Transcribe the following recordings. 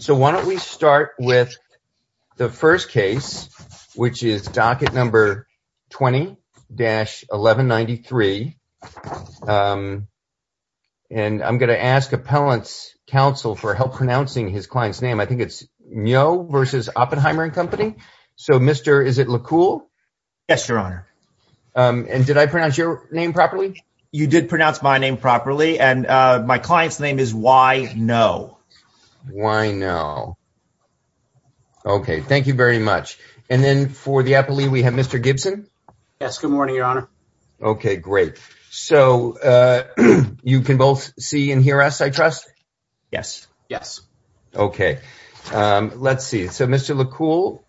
So, why don't we start with the first case, which is docket number 20-1193. And I'm going to ask appellant's counsel for help pronouncing his client's name. I think it's Myo versus Oppenheimer and Company. So Mr., is it Lacool? Yes, Your Honor. And did I pronounce your name properly? You did pronounce my name properly. And my client's name is Y. No. Why no? Okay. Thank you very much. And then for the appellee, we have Mr. Gibson. Yes. Good morning, Your Honor. Okay. Great. So, you can both see and hear us, I trust? Yes. Yes. Okay. Let's see. So, Mr. Lacool,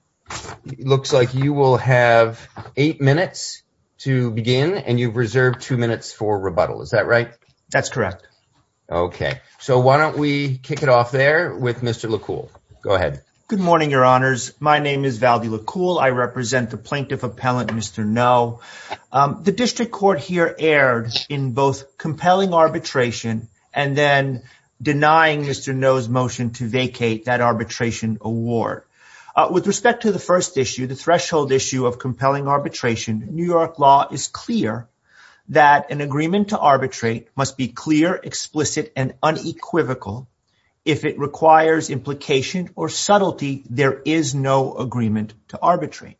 looks like you will have eight minutes to begin and you've reserved two minutes for rebuttal. Is that right? That's correct. Okay. So, why don't we kick it off there with Mr. Lacool? Go ahead. Good morning, Your Honors. My name is Valdi Lacool. I represent the plaintiff appellant, Mr. No. The district court here erred in both compelling arbitration and then denying Mr. No's motion to vacate that arbitration award. With respect to the first issue, the threshold issue of compelling arbitration, New York law is clear that an agreement to arbitrate must be clear, explicit, and unequivocal. If it requires implication or subtlety, there is no agreement to arbitrate.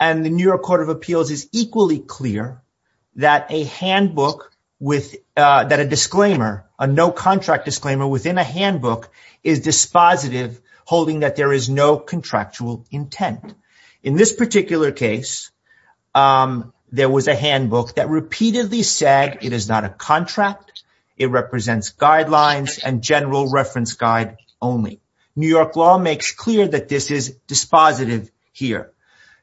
And the New York Court of Appeals is equally clear that a handbook, that a disclaimer, a no-contract disclaimer within a handbook is dispositive, holding that there is no contractual intent. In this particular case, there was a handbook that repeatedly said it is not a contract. It represents guidelines and general reference guide only. New York law makes clear that this is dispositive here.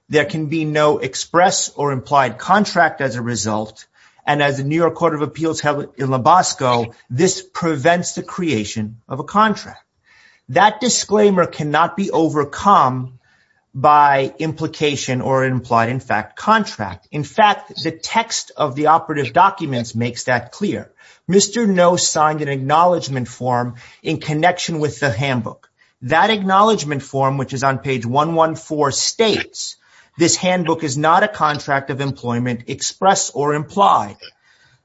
There can be no express or implied contract as a result. And as the New York Court of Appeals held in Lubasco, this prevents the creation of a contract. That disclaimer cannot be overcome by implication or implied, in fact, contract. In fact, the text of the operative documents makes that clear. Mr. No signed an acknowledgment form in connection with the handbook. That acknowledgment form, which is on page 114, states this handbook is not a contract of employment expressed or implied.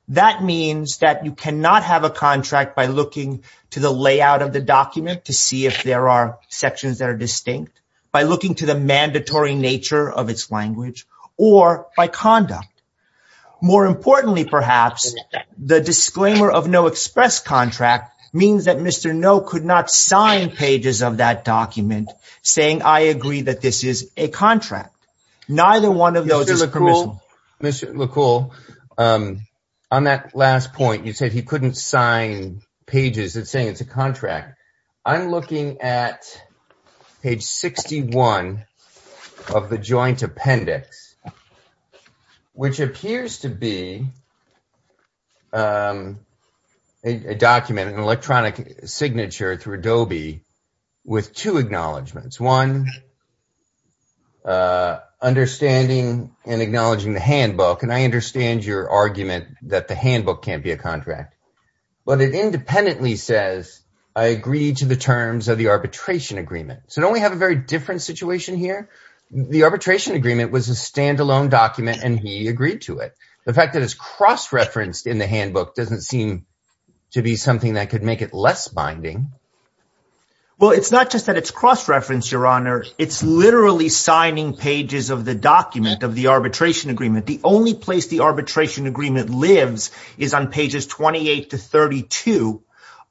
That means that you cannot have a contract by looking to the layout of the document to see if there are sections that are distinct, by looking to the mandatory nature of its language, or by conduct. More importantly, perhaps, the disclaimer of no express contract means that Mr. No could not sign pages of that document saying, I agree that this is a contract. Neither one of those is permissible. Mr. LaCoulle, on that last point, you said he couldn't sign pages saying it's a contract. I'm looking at page 61 of the joint appendix, which appears to be a document, an electronic signature through Adobe, with two acknowledgments. It's one, understanding and acknowledging the handbook. And I understand your argument that the handbook can't be a contract. But it independently says, I agree to the terms of the arbitration agreement. So don't we have a very different situation here? The arbitration agreement was a standalone document, and he agreed to it. The fact that it's cross-referenced in the handbook doesn't seem to be something that could make it less binding. Well, it's not just that it's cross-referenced, Your Honor. It's literally signing pages of the document of the arbitration agreement. The only place the arbitration agreement lives is on pages 28 to 32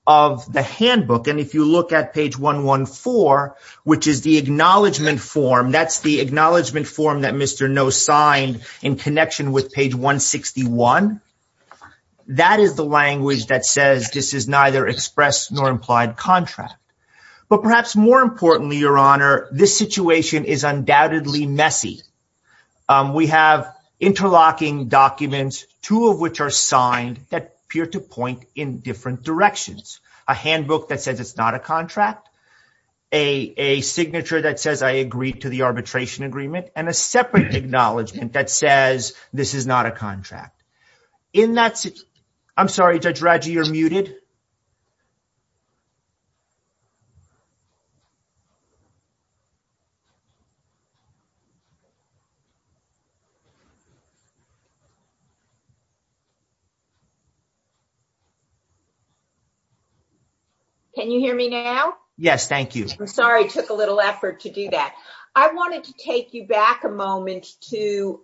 of the handbook. And if you look at page 114, which is the acknowledgement form, that's the acknowledgement form that Mr. No signed in connection with page 161. That is the language that says this is neither expressed nor implied contract. But perhaps more importantly, Your Honor, this situation is undoubtedly messy. We have interlocking documents, two of which are signed, that appear to point in different directions. A handbook that says it's not a contract, a signature that says I agree to the arbitration agreement, and a separate acknowledgement that says this is not a I'm sorry, Judge Radji, you're muted. Can you hear me now? Yes, thank you. I'm sorry, it took a little effort to do that. I wanted to take you back a moment to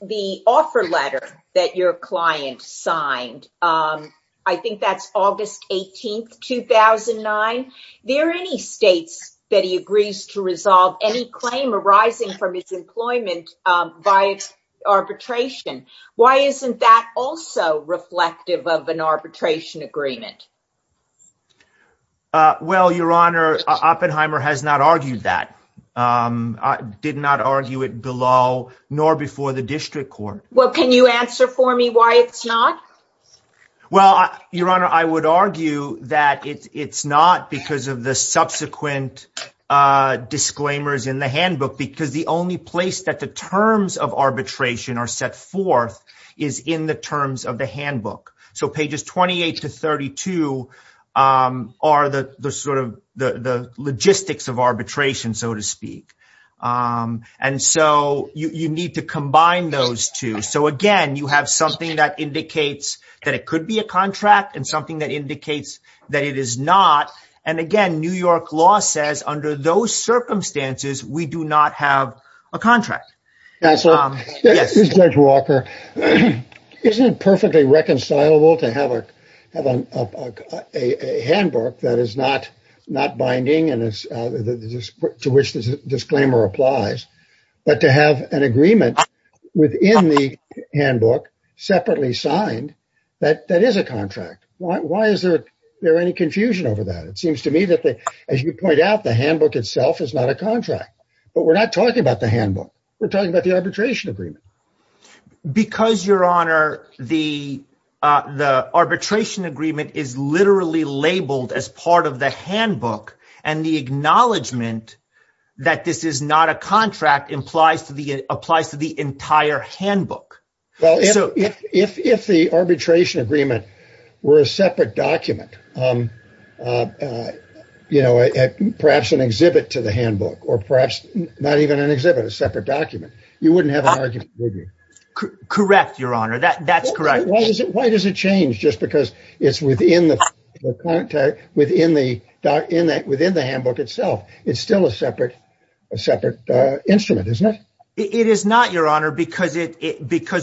the offer letter that your client signed. I think that's August 18th, 2009. There are any states that he agrees to resolve any claim arising from his employment by arbitration. Why isn't that also reflective of an arbitration agreement? Well, Your Honor, Oppenheimer has not argued that, did not argue it below nor before the district court. Well, can you answer for me why it's not? Well, Your Honor, I would argue that it's not because of the subsequent disclaimers in the handbook, because the only place that the terms of arbitration are set forth is in the terms of the handbook. So pages 28 to 32 are the logistics of arbitration, so to speak. And so you need to combine those two. So again, you have something that indicates that it could be a contract and something that indicates that it is not. And again, New York law says under those circumstances, we do not have a contract. Judge Walker, isn't it perfectly reconcilable to have a handbook that is not binding and to which the disclaimer applies, but to have an agreement within the handbook separately signed that that is a contract? Why is there any confusion over that? It seems to me that, as you point out, the handbook itself is not a contract. But we're not talking about the handbook. We're talking about the arbitration agreement. Because, Your Honor, the arbitration agreement is literally labeled as part of the handbook and the acknowledgement that this is not a contract applies to the entire handbook. Well, if the arbitration agreement were a separate document, you know, perhaps an exhibit, a separate document. You wouldn't have an argument, would you? Correct, Your Honor. That's correct. Why does it change just because it's within the handbook itself? It's still a separate instrument, isn't it? It is not, Your Honor, because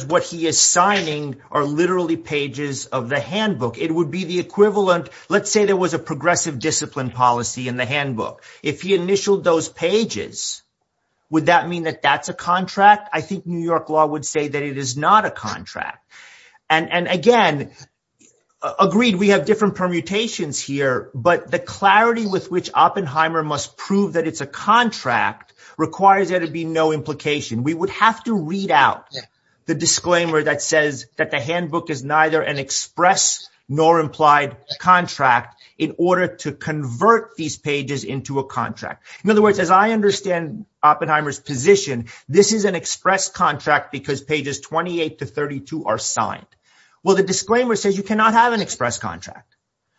what he is signing are literally pages of the handbook. It would be the equivalent. Let's say there was a progressive discipline policy in the handbook. If he initialed those pages, would that mean that that's a contract? I think New York law would say that it is not a contract. And, again, agreed, we have different permutations here. But the clarity with which Oppenheimer must prove that it's a contract requires there to be no implication. We would have to read out the disclaimer that says that the handbook is neither an express nor implied contract in order to convert these pages into a contract. In other words, as I understand Oppenheimer's position, this is an express contract because pages 28 to 32 are signed. Well, the disclaimer says you cannot have an express contract.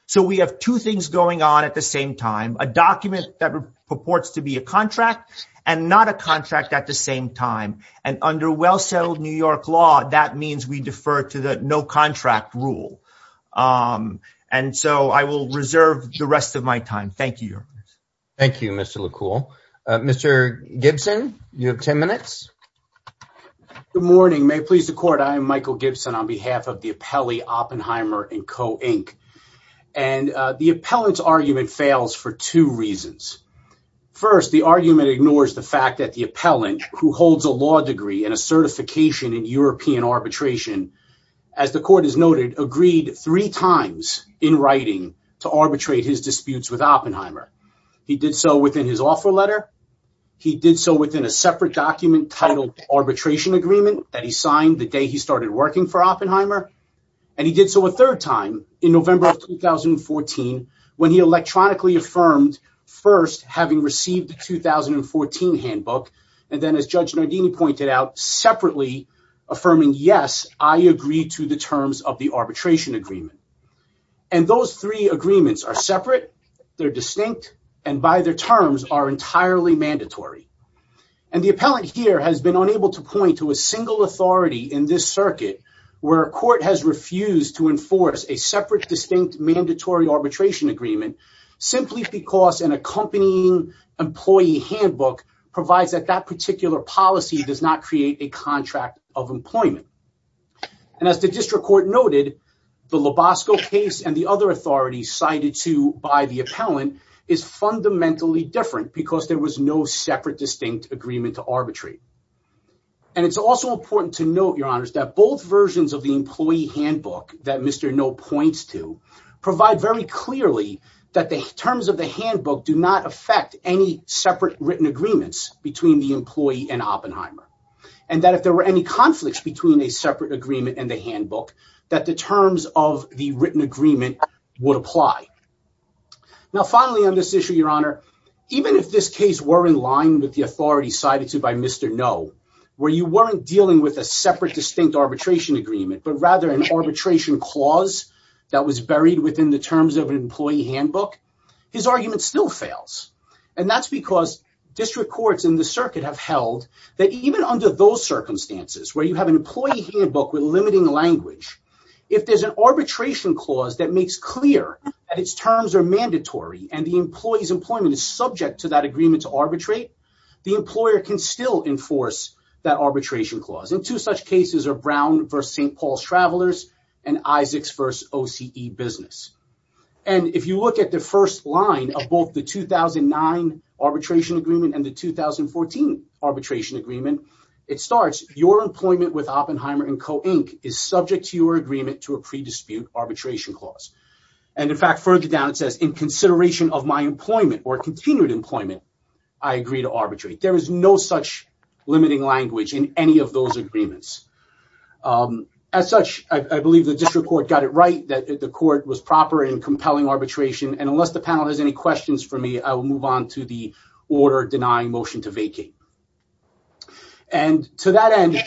So we have two things going on at the same time, a document that purports to be a contract and not a contract at the same time. And under well-settled New York law, that means we defer to the no contract rule. And so I will reserve the rest of my time. Thank you. Thank you, Mr. Likul. Mr. Gibson, you have ten minutes. Good morning. May it please the court, I am Michael Gibson on behalf of the appellee Oppenheimer & Co, Inc. And the appellant's argument fails for two reasons. First, the argument ignores the fact that the appellant who holds a law degree and a certification in European arbitration, as the court has noted, agreed three times in writing to arbitrate his disputes with Oppenheimer. He did so within his offer letter. He did so within a separate document titled Arbitration Agreement that he signed the day he started working for Oppenheimer. And he did so a third time in November of 2014 when he electronically affirmed first, having received the 2014 handbook, and then, as Judge Nardini pointed out, separately affirming, yes, I agree to the terms of the arbitration agreement. And those three agreements are separate, they're distinct, and by their terms are entirely mandatory. And the appellant here has been unable to point to a single authority in this circuit where a court has refused to enforce a separate, distinct, mandatory arbitration agreement simply because an accompanying employee handbook provides that that particular policy does not create a contract of employment. And as the district court noted, the Lobosco case and the other authorities cited to by the appellant is fundamentally different because there was no separate, distinct agreement to arbitrate. And it's also important to note, Your Honors, that both versions of the employee handbook that Mr. Noh points to provide very clearly that the terms of the handbook do not affect any separate written agreements between the employee and Oppenheimer. And that if there were any conflicts between a separate agreement and the handbook, that the terms of the written agreement would apply. Now, finally, on this issue, Your Honor, even if this case were in line with the authority cited to by Mr. Noh, where you weren't dealing with a separate, distinct arbitration agreement, but rather an arbitration clause that was buried within the terms of an employee handbook, his argument still fails. And that's because district courts in the circuit have held that even under those circumstances where you have an employee handbook with limiting language, if there's an arbitration clause that makes clear that its terms are mandatory and the employee's employment is subject to that agreement to arbitrate, the employer can still enforce that arbitration clause. And two such cases are Brown v. St. Paul's Travelers and Isaacs v. OCE Business. And if you look at the first line of both the 2009 arbitration agreement and the 2014 arbitration agreement, it starts, Your employment with Oppenheimer and Co. Inc. is subject to your agreement to a pre-dispute arbitration clause. And, in fact, further down it says, In consideration of my employment or continued employment, I agree to arbitrate. There is no such limiting language in any of those agreements. As such, I believe the district court got it right, that the court was proper in compelling arbitration. And unless the panel has any questions for me, I will move on to the order denying motion to vacate. And to that end,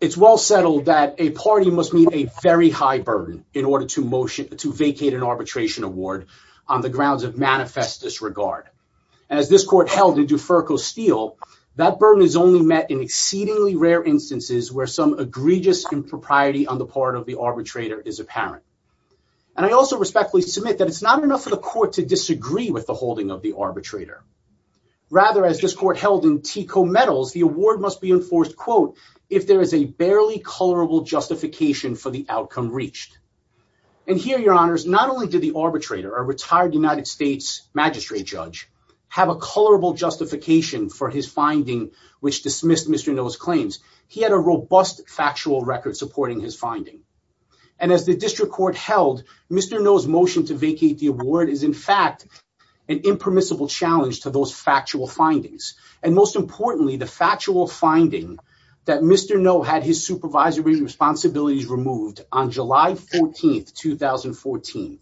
it's well settled that a party must meet a very high burden in order to vacate an arbitration award on the grounds of manifest disregard. As this court held in Duferco Steel, that burden is only met in exceedingly rare instances where some egregious impropriety on the part of the arbitrator is apparent. And I also respectfully submit that it's not enough for the court to disagree with the holding of the arbitrator. Rather, as this court held in TECO Metals, the award must be enforced, quote, if there is a barely colorable justification for the outcome reached. And here, your honors, not only did the arbitrator, a retired United States magistrate judge, have a colorable justification for his finding, which dismissed Mr. Noe's claims, he had a robust factual record supporting his finding. And as the district court held, Mr. Noe's motion to vacate the award is in fact an impermissible challenge to those factual findings. And most importantly, the factual finding that Mr. Noe had his supervisory responsibilities removed on July 14th, 2014,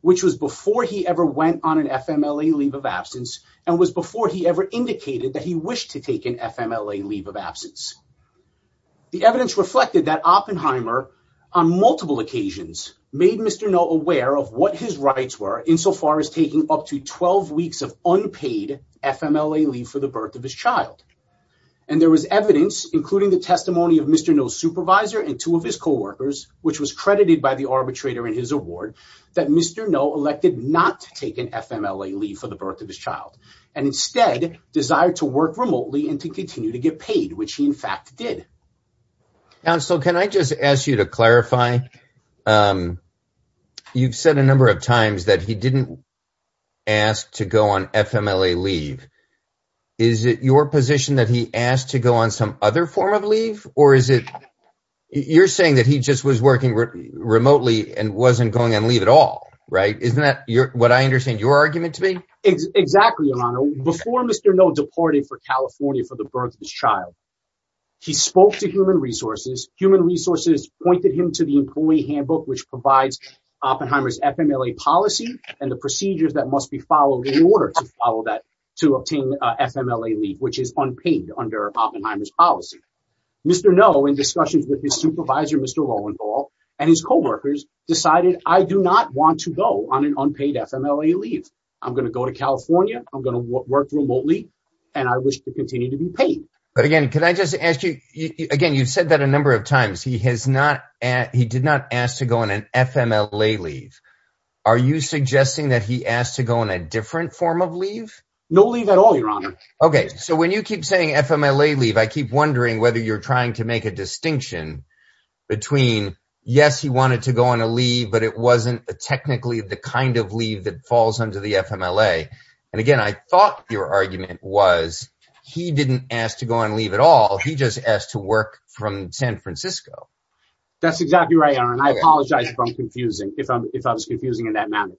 which was before he ever went on an FMLA leave of absence and was before he ever indicated that he wished to take an FMLA leave of absence. The evidence reflected that Oppenheimer on multiple occasions made Mr. Noe aware of what his rights were insofar as taking up to 12 weeks of unpaid FMLA leave for the birth of his child. And there was evidence, including the testimony of Mr. Noe's supervisor and two of his coworkers, which was credited by the arbitrator in his award, that Mr. Noe elected not to take an FMLA leave for the birth of his child, and instead desired to work remotely and to continue to get paid, which he in fact did. Counsel, can I just ask you to clarify? You've said a number of times that he didn't ask to go on FMLA leave. Is it your position that he asked to go on some other form of leave, or is it you're saying that he just was working remotely and wasn't going on leave at all, right? Isn't that what I understand your argument to be? Exactly, Your Honor. Before Mr. Noe departed for California for the birth of his child, he spoke to Human Resources. Human Resources pointed him to the employee handbook, which provides Oppenheimer's FMLA policy and the procedures that must be followed to obtain FMLA leave, which is unpaid under Oppenheimer's policy. Mr. Noe, in discussions with his supervisor, Mr. Roentgel, and his coworkers decided, I do not want to go on an unpaid FMLA leave. I'm going to go to California. I'm going to work remotely, and I wish to continue to be paid. But again, can I just ask you, again, you've said that a number of times. He did not ask to go on an FMLA leave. Are you suggesting that he asked to go on a different form of leave? No leave at all, Your Honor. Okay, so when you keep saying FMLA leave, I keep wondering whether you're trying to make a distinction between, yes, he wanted to go on a leave, but it wasn't technically the kind of leave that falls under the FMLA. And again, I thought your argument was he didn't ask to go on leave at all. He just asked to work from San Francisco. That's exactly right, Your Honor, and I apologize if I'm confusing, if I'm, if I was confusing in that manner.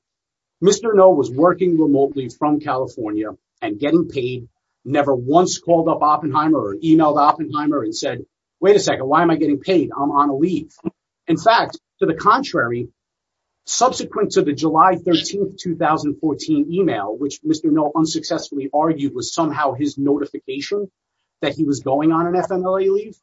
Mr. No was working remotely from California and getting paid, never once called up Oppenheimer or emailed Oppenheimer and said, wait a second, why am I getting paid? I'm on a leave. In fact, to the contrary, subsequent to the July 13th, 2014 email, which Mr. No unsuccessfully argued was somehow his notification that he was going on an FMLA leave,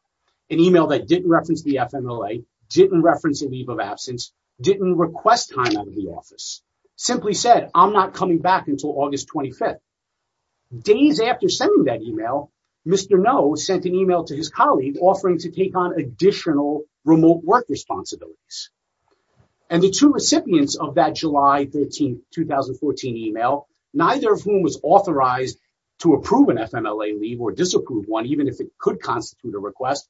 an email that didn't reference the FMLA, didn't reference a leave of absence, didn't request time out of the office. Simply said, I'm not coming back until August 25th. Days after sending that email, Mr. No sent an email to his colleague offering to take on additional remote work responsibilities. And the two recipients of that July 13th, 2014 email, neither of whom was authorized to approve an FMLA leave or disapprove one, even if it could constitute a request,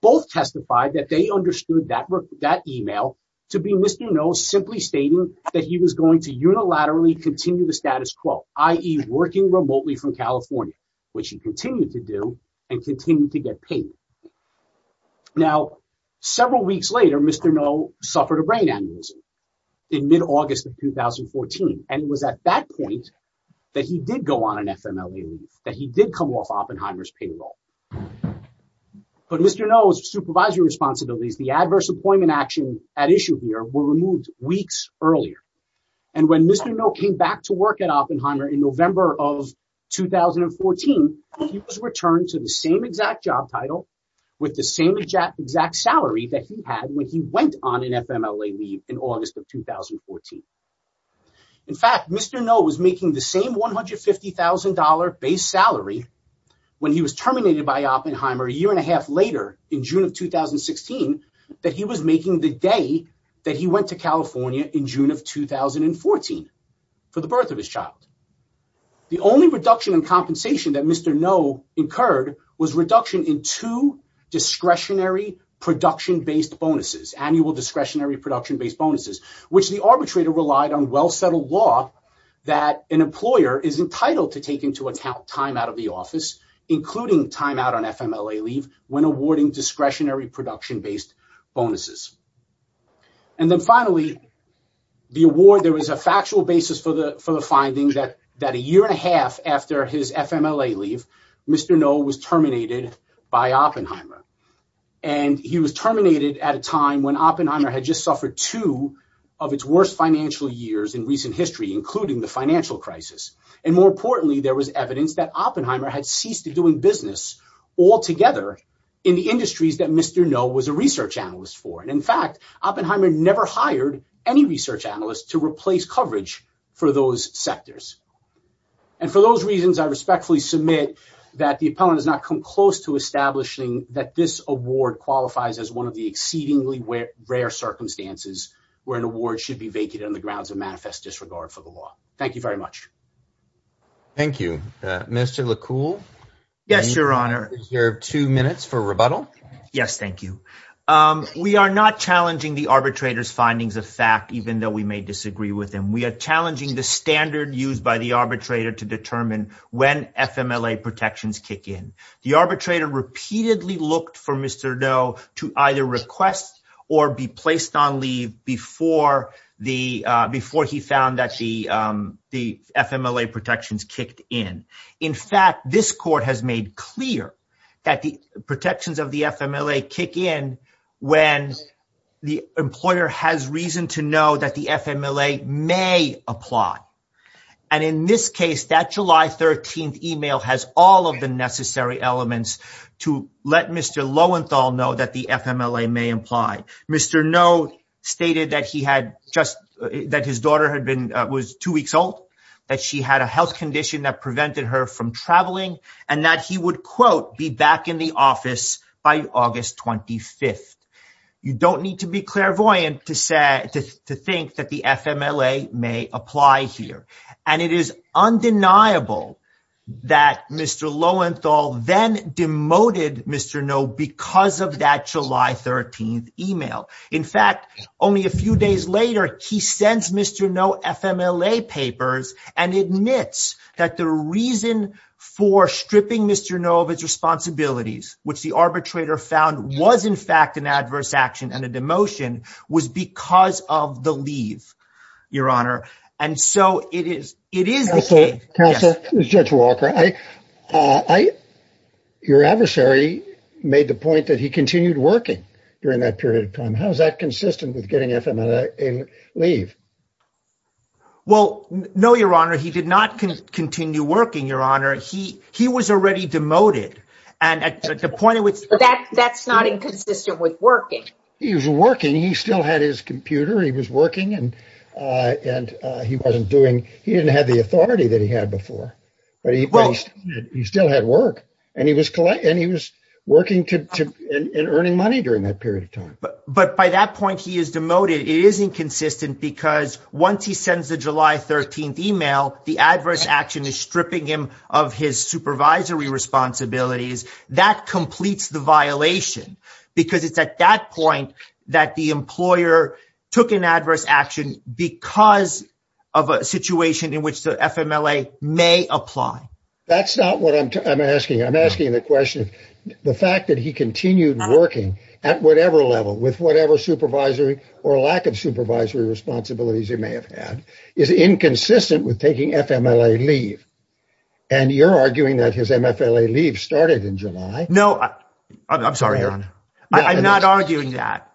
both testified that they understood that that email to be Mr. No simply stating that he was going to unilaterally continue the status quo, i.e. working remotely from California, which he continued to do and continue to get paid. Now, several weeks later, Mr. No suffered a brain aneurysm in mid-August of 2014. And it was at that point that he did go on an FMLA leave, that he did come off Oppenheimer's payroll. But Mr. No's supervisory responsibilities, the adverse appointment action at issue here were removed weeks earlier. And when Mr. No came back to work at Oppenheimer in November of 2014, he was returned to the same exact job title with the same exact salary that he had when he went on an FMLA leave in August of 2014. In fact, Mr. No was making the same $150,000 base salary when he was terminated by Oppenheimer a year and a half later in June of 2016, that he was making the day that he went to California in June of 2014 for the birth of his child. The only reduction in compensation that Mr. No incurred was reduction in two discretionary production-based bonuses, annual discretionary production-based bonuses, which the arbitrator relied on well-settled law that an employer is entitled to take into account time out of the office, including time out on FMLA leave, when awarding discretionary production-based bonuses. And then finally, the award, there was a factual basis for the finding that a year and a half after his FMLA leave, Mr. No was terminated by Oppenheimer. And he was terminated at a time when Oppenheimer had just suffered two of its worst financial years in recent history, including the financial crisis. And more importantly, there was evidence that Oppenheimer had ceased doing business altogether in the industries that Mr. No was a research analyst for. And in fact, Oppenheimer never hired any research analyst to replace coverage for those sectors. And for those reasons, I respectfully submit that the appellant has not come close to establishing that this award qualifies as one of the exceedingly rare circumstances where an award should be vacated on the grounds of manifest disregard for the law. Thank you very much. Thank you. Mr. Likul? Yes, Your Honor. You have two minutes for rebuttal. Yes, thank you. We are not challenging the arbitrator's findings of fact, even though we may disagree with them. We are challenging the standard used by the arbitrator to determine when FMLA protections kick in. The arbitrator repeatedly looked for Mr. No to either request or be placed on leave before he found that the FMLA protections kicked in. In fact, this court has made clear that the protections of the FMLA kick in when the employer has reason to know that the FMLA may apply. And in this case, that July 13th email has all of the necessary elements to let Mr. Lowenthal know that the FMLA may apply. Mr. No stated that his daughter was two weeks old, that she had a health condition that prevented her from traveling, and that he would, quote, be back in the office by August 25th. You don't need to be clairvoyant to think that the FMLA may apply here. And it is undeniable that Mr. Lowenthal then demoted Mr. No because of that July 13th email. In fact, only a few days later, he sends Mr. No FMLA papers and admits that the reason for stripping Mr. No of his responsibilities, which the arbitrator found was in fact an adverse action and a demotion, was because of the leave, Your Honor. And so it is, it is the case. Counselor, Judge Walker, I, your adversary made the point that he continued working during that period of time. How is that consistent with getting FMLA leave? Well, no, Your Honor, he did not continue working, Your Honor. He he was already demoted. And at the point it was that that's not inconsistent with working. He was working. He still had his computer. He was working and and he wasn't doing he didn't have the authority that he had before. But he he still had work and he was and he was working to in earning money during that period of time. But by that point, he is demoted. It is inconsistent because once he sends the July 13th email, the adverse action is stripping him of his supervisory responsibilities. That completes the violation because it's at that point that the employer took an adverse action because of a situation in which the FMLA may apply. That's not what I'm asking. I'm asking the question. The fact that he continued working at whatever level with whatever supervisory or lack of supervisory responsibilities he may have had is inconsistent with taking FMLA leave. And you're arguing that his MFLA leave started in July. No, I'm sorry. I'm not arguing that.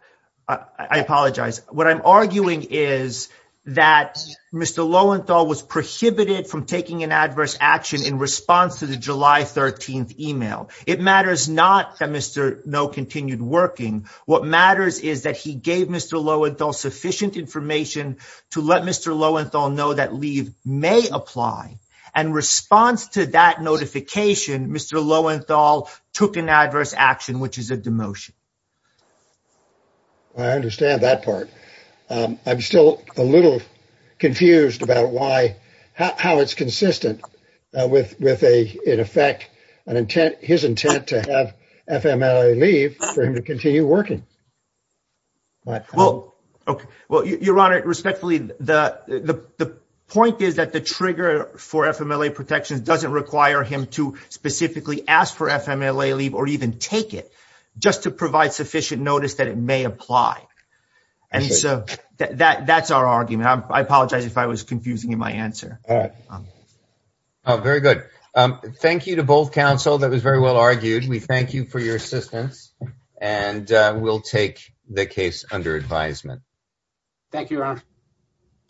I apologize. What I'm arguing is that Mr. Lowenthal was prohibited from taking an adverse action in response to the July 13th email. It matters not that Mr. No continued working. What matters is that he gave Mr. Lowenthal sufficient information to let Mr. Lowenthal know that leave may apply. In response to that notification, Mr. Lowenthal took an adverse action, which is a demotion. I understand that part. I'm still a little confused about how it's consistent with his intent to have FMLA leave for him to continue working. Well, Your Honor, respectfully, the point is that the trigger for FMLA protection doesn't require him to specifically ask for FMLA leave or even take it just to provide sufficient notice that it may apply. And so that's our argument. I apologize if I was confusing you in my answer. All right. Very good. Thank you to both counsel. That was very well argued. We thank you for your assistance and we'll take the case under advisement.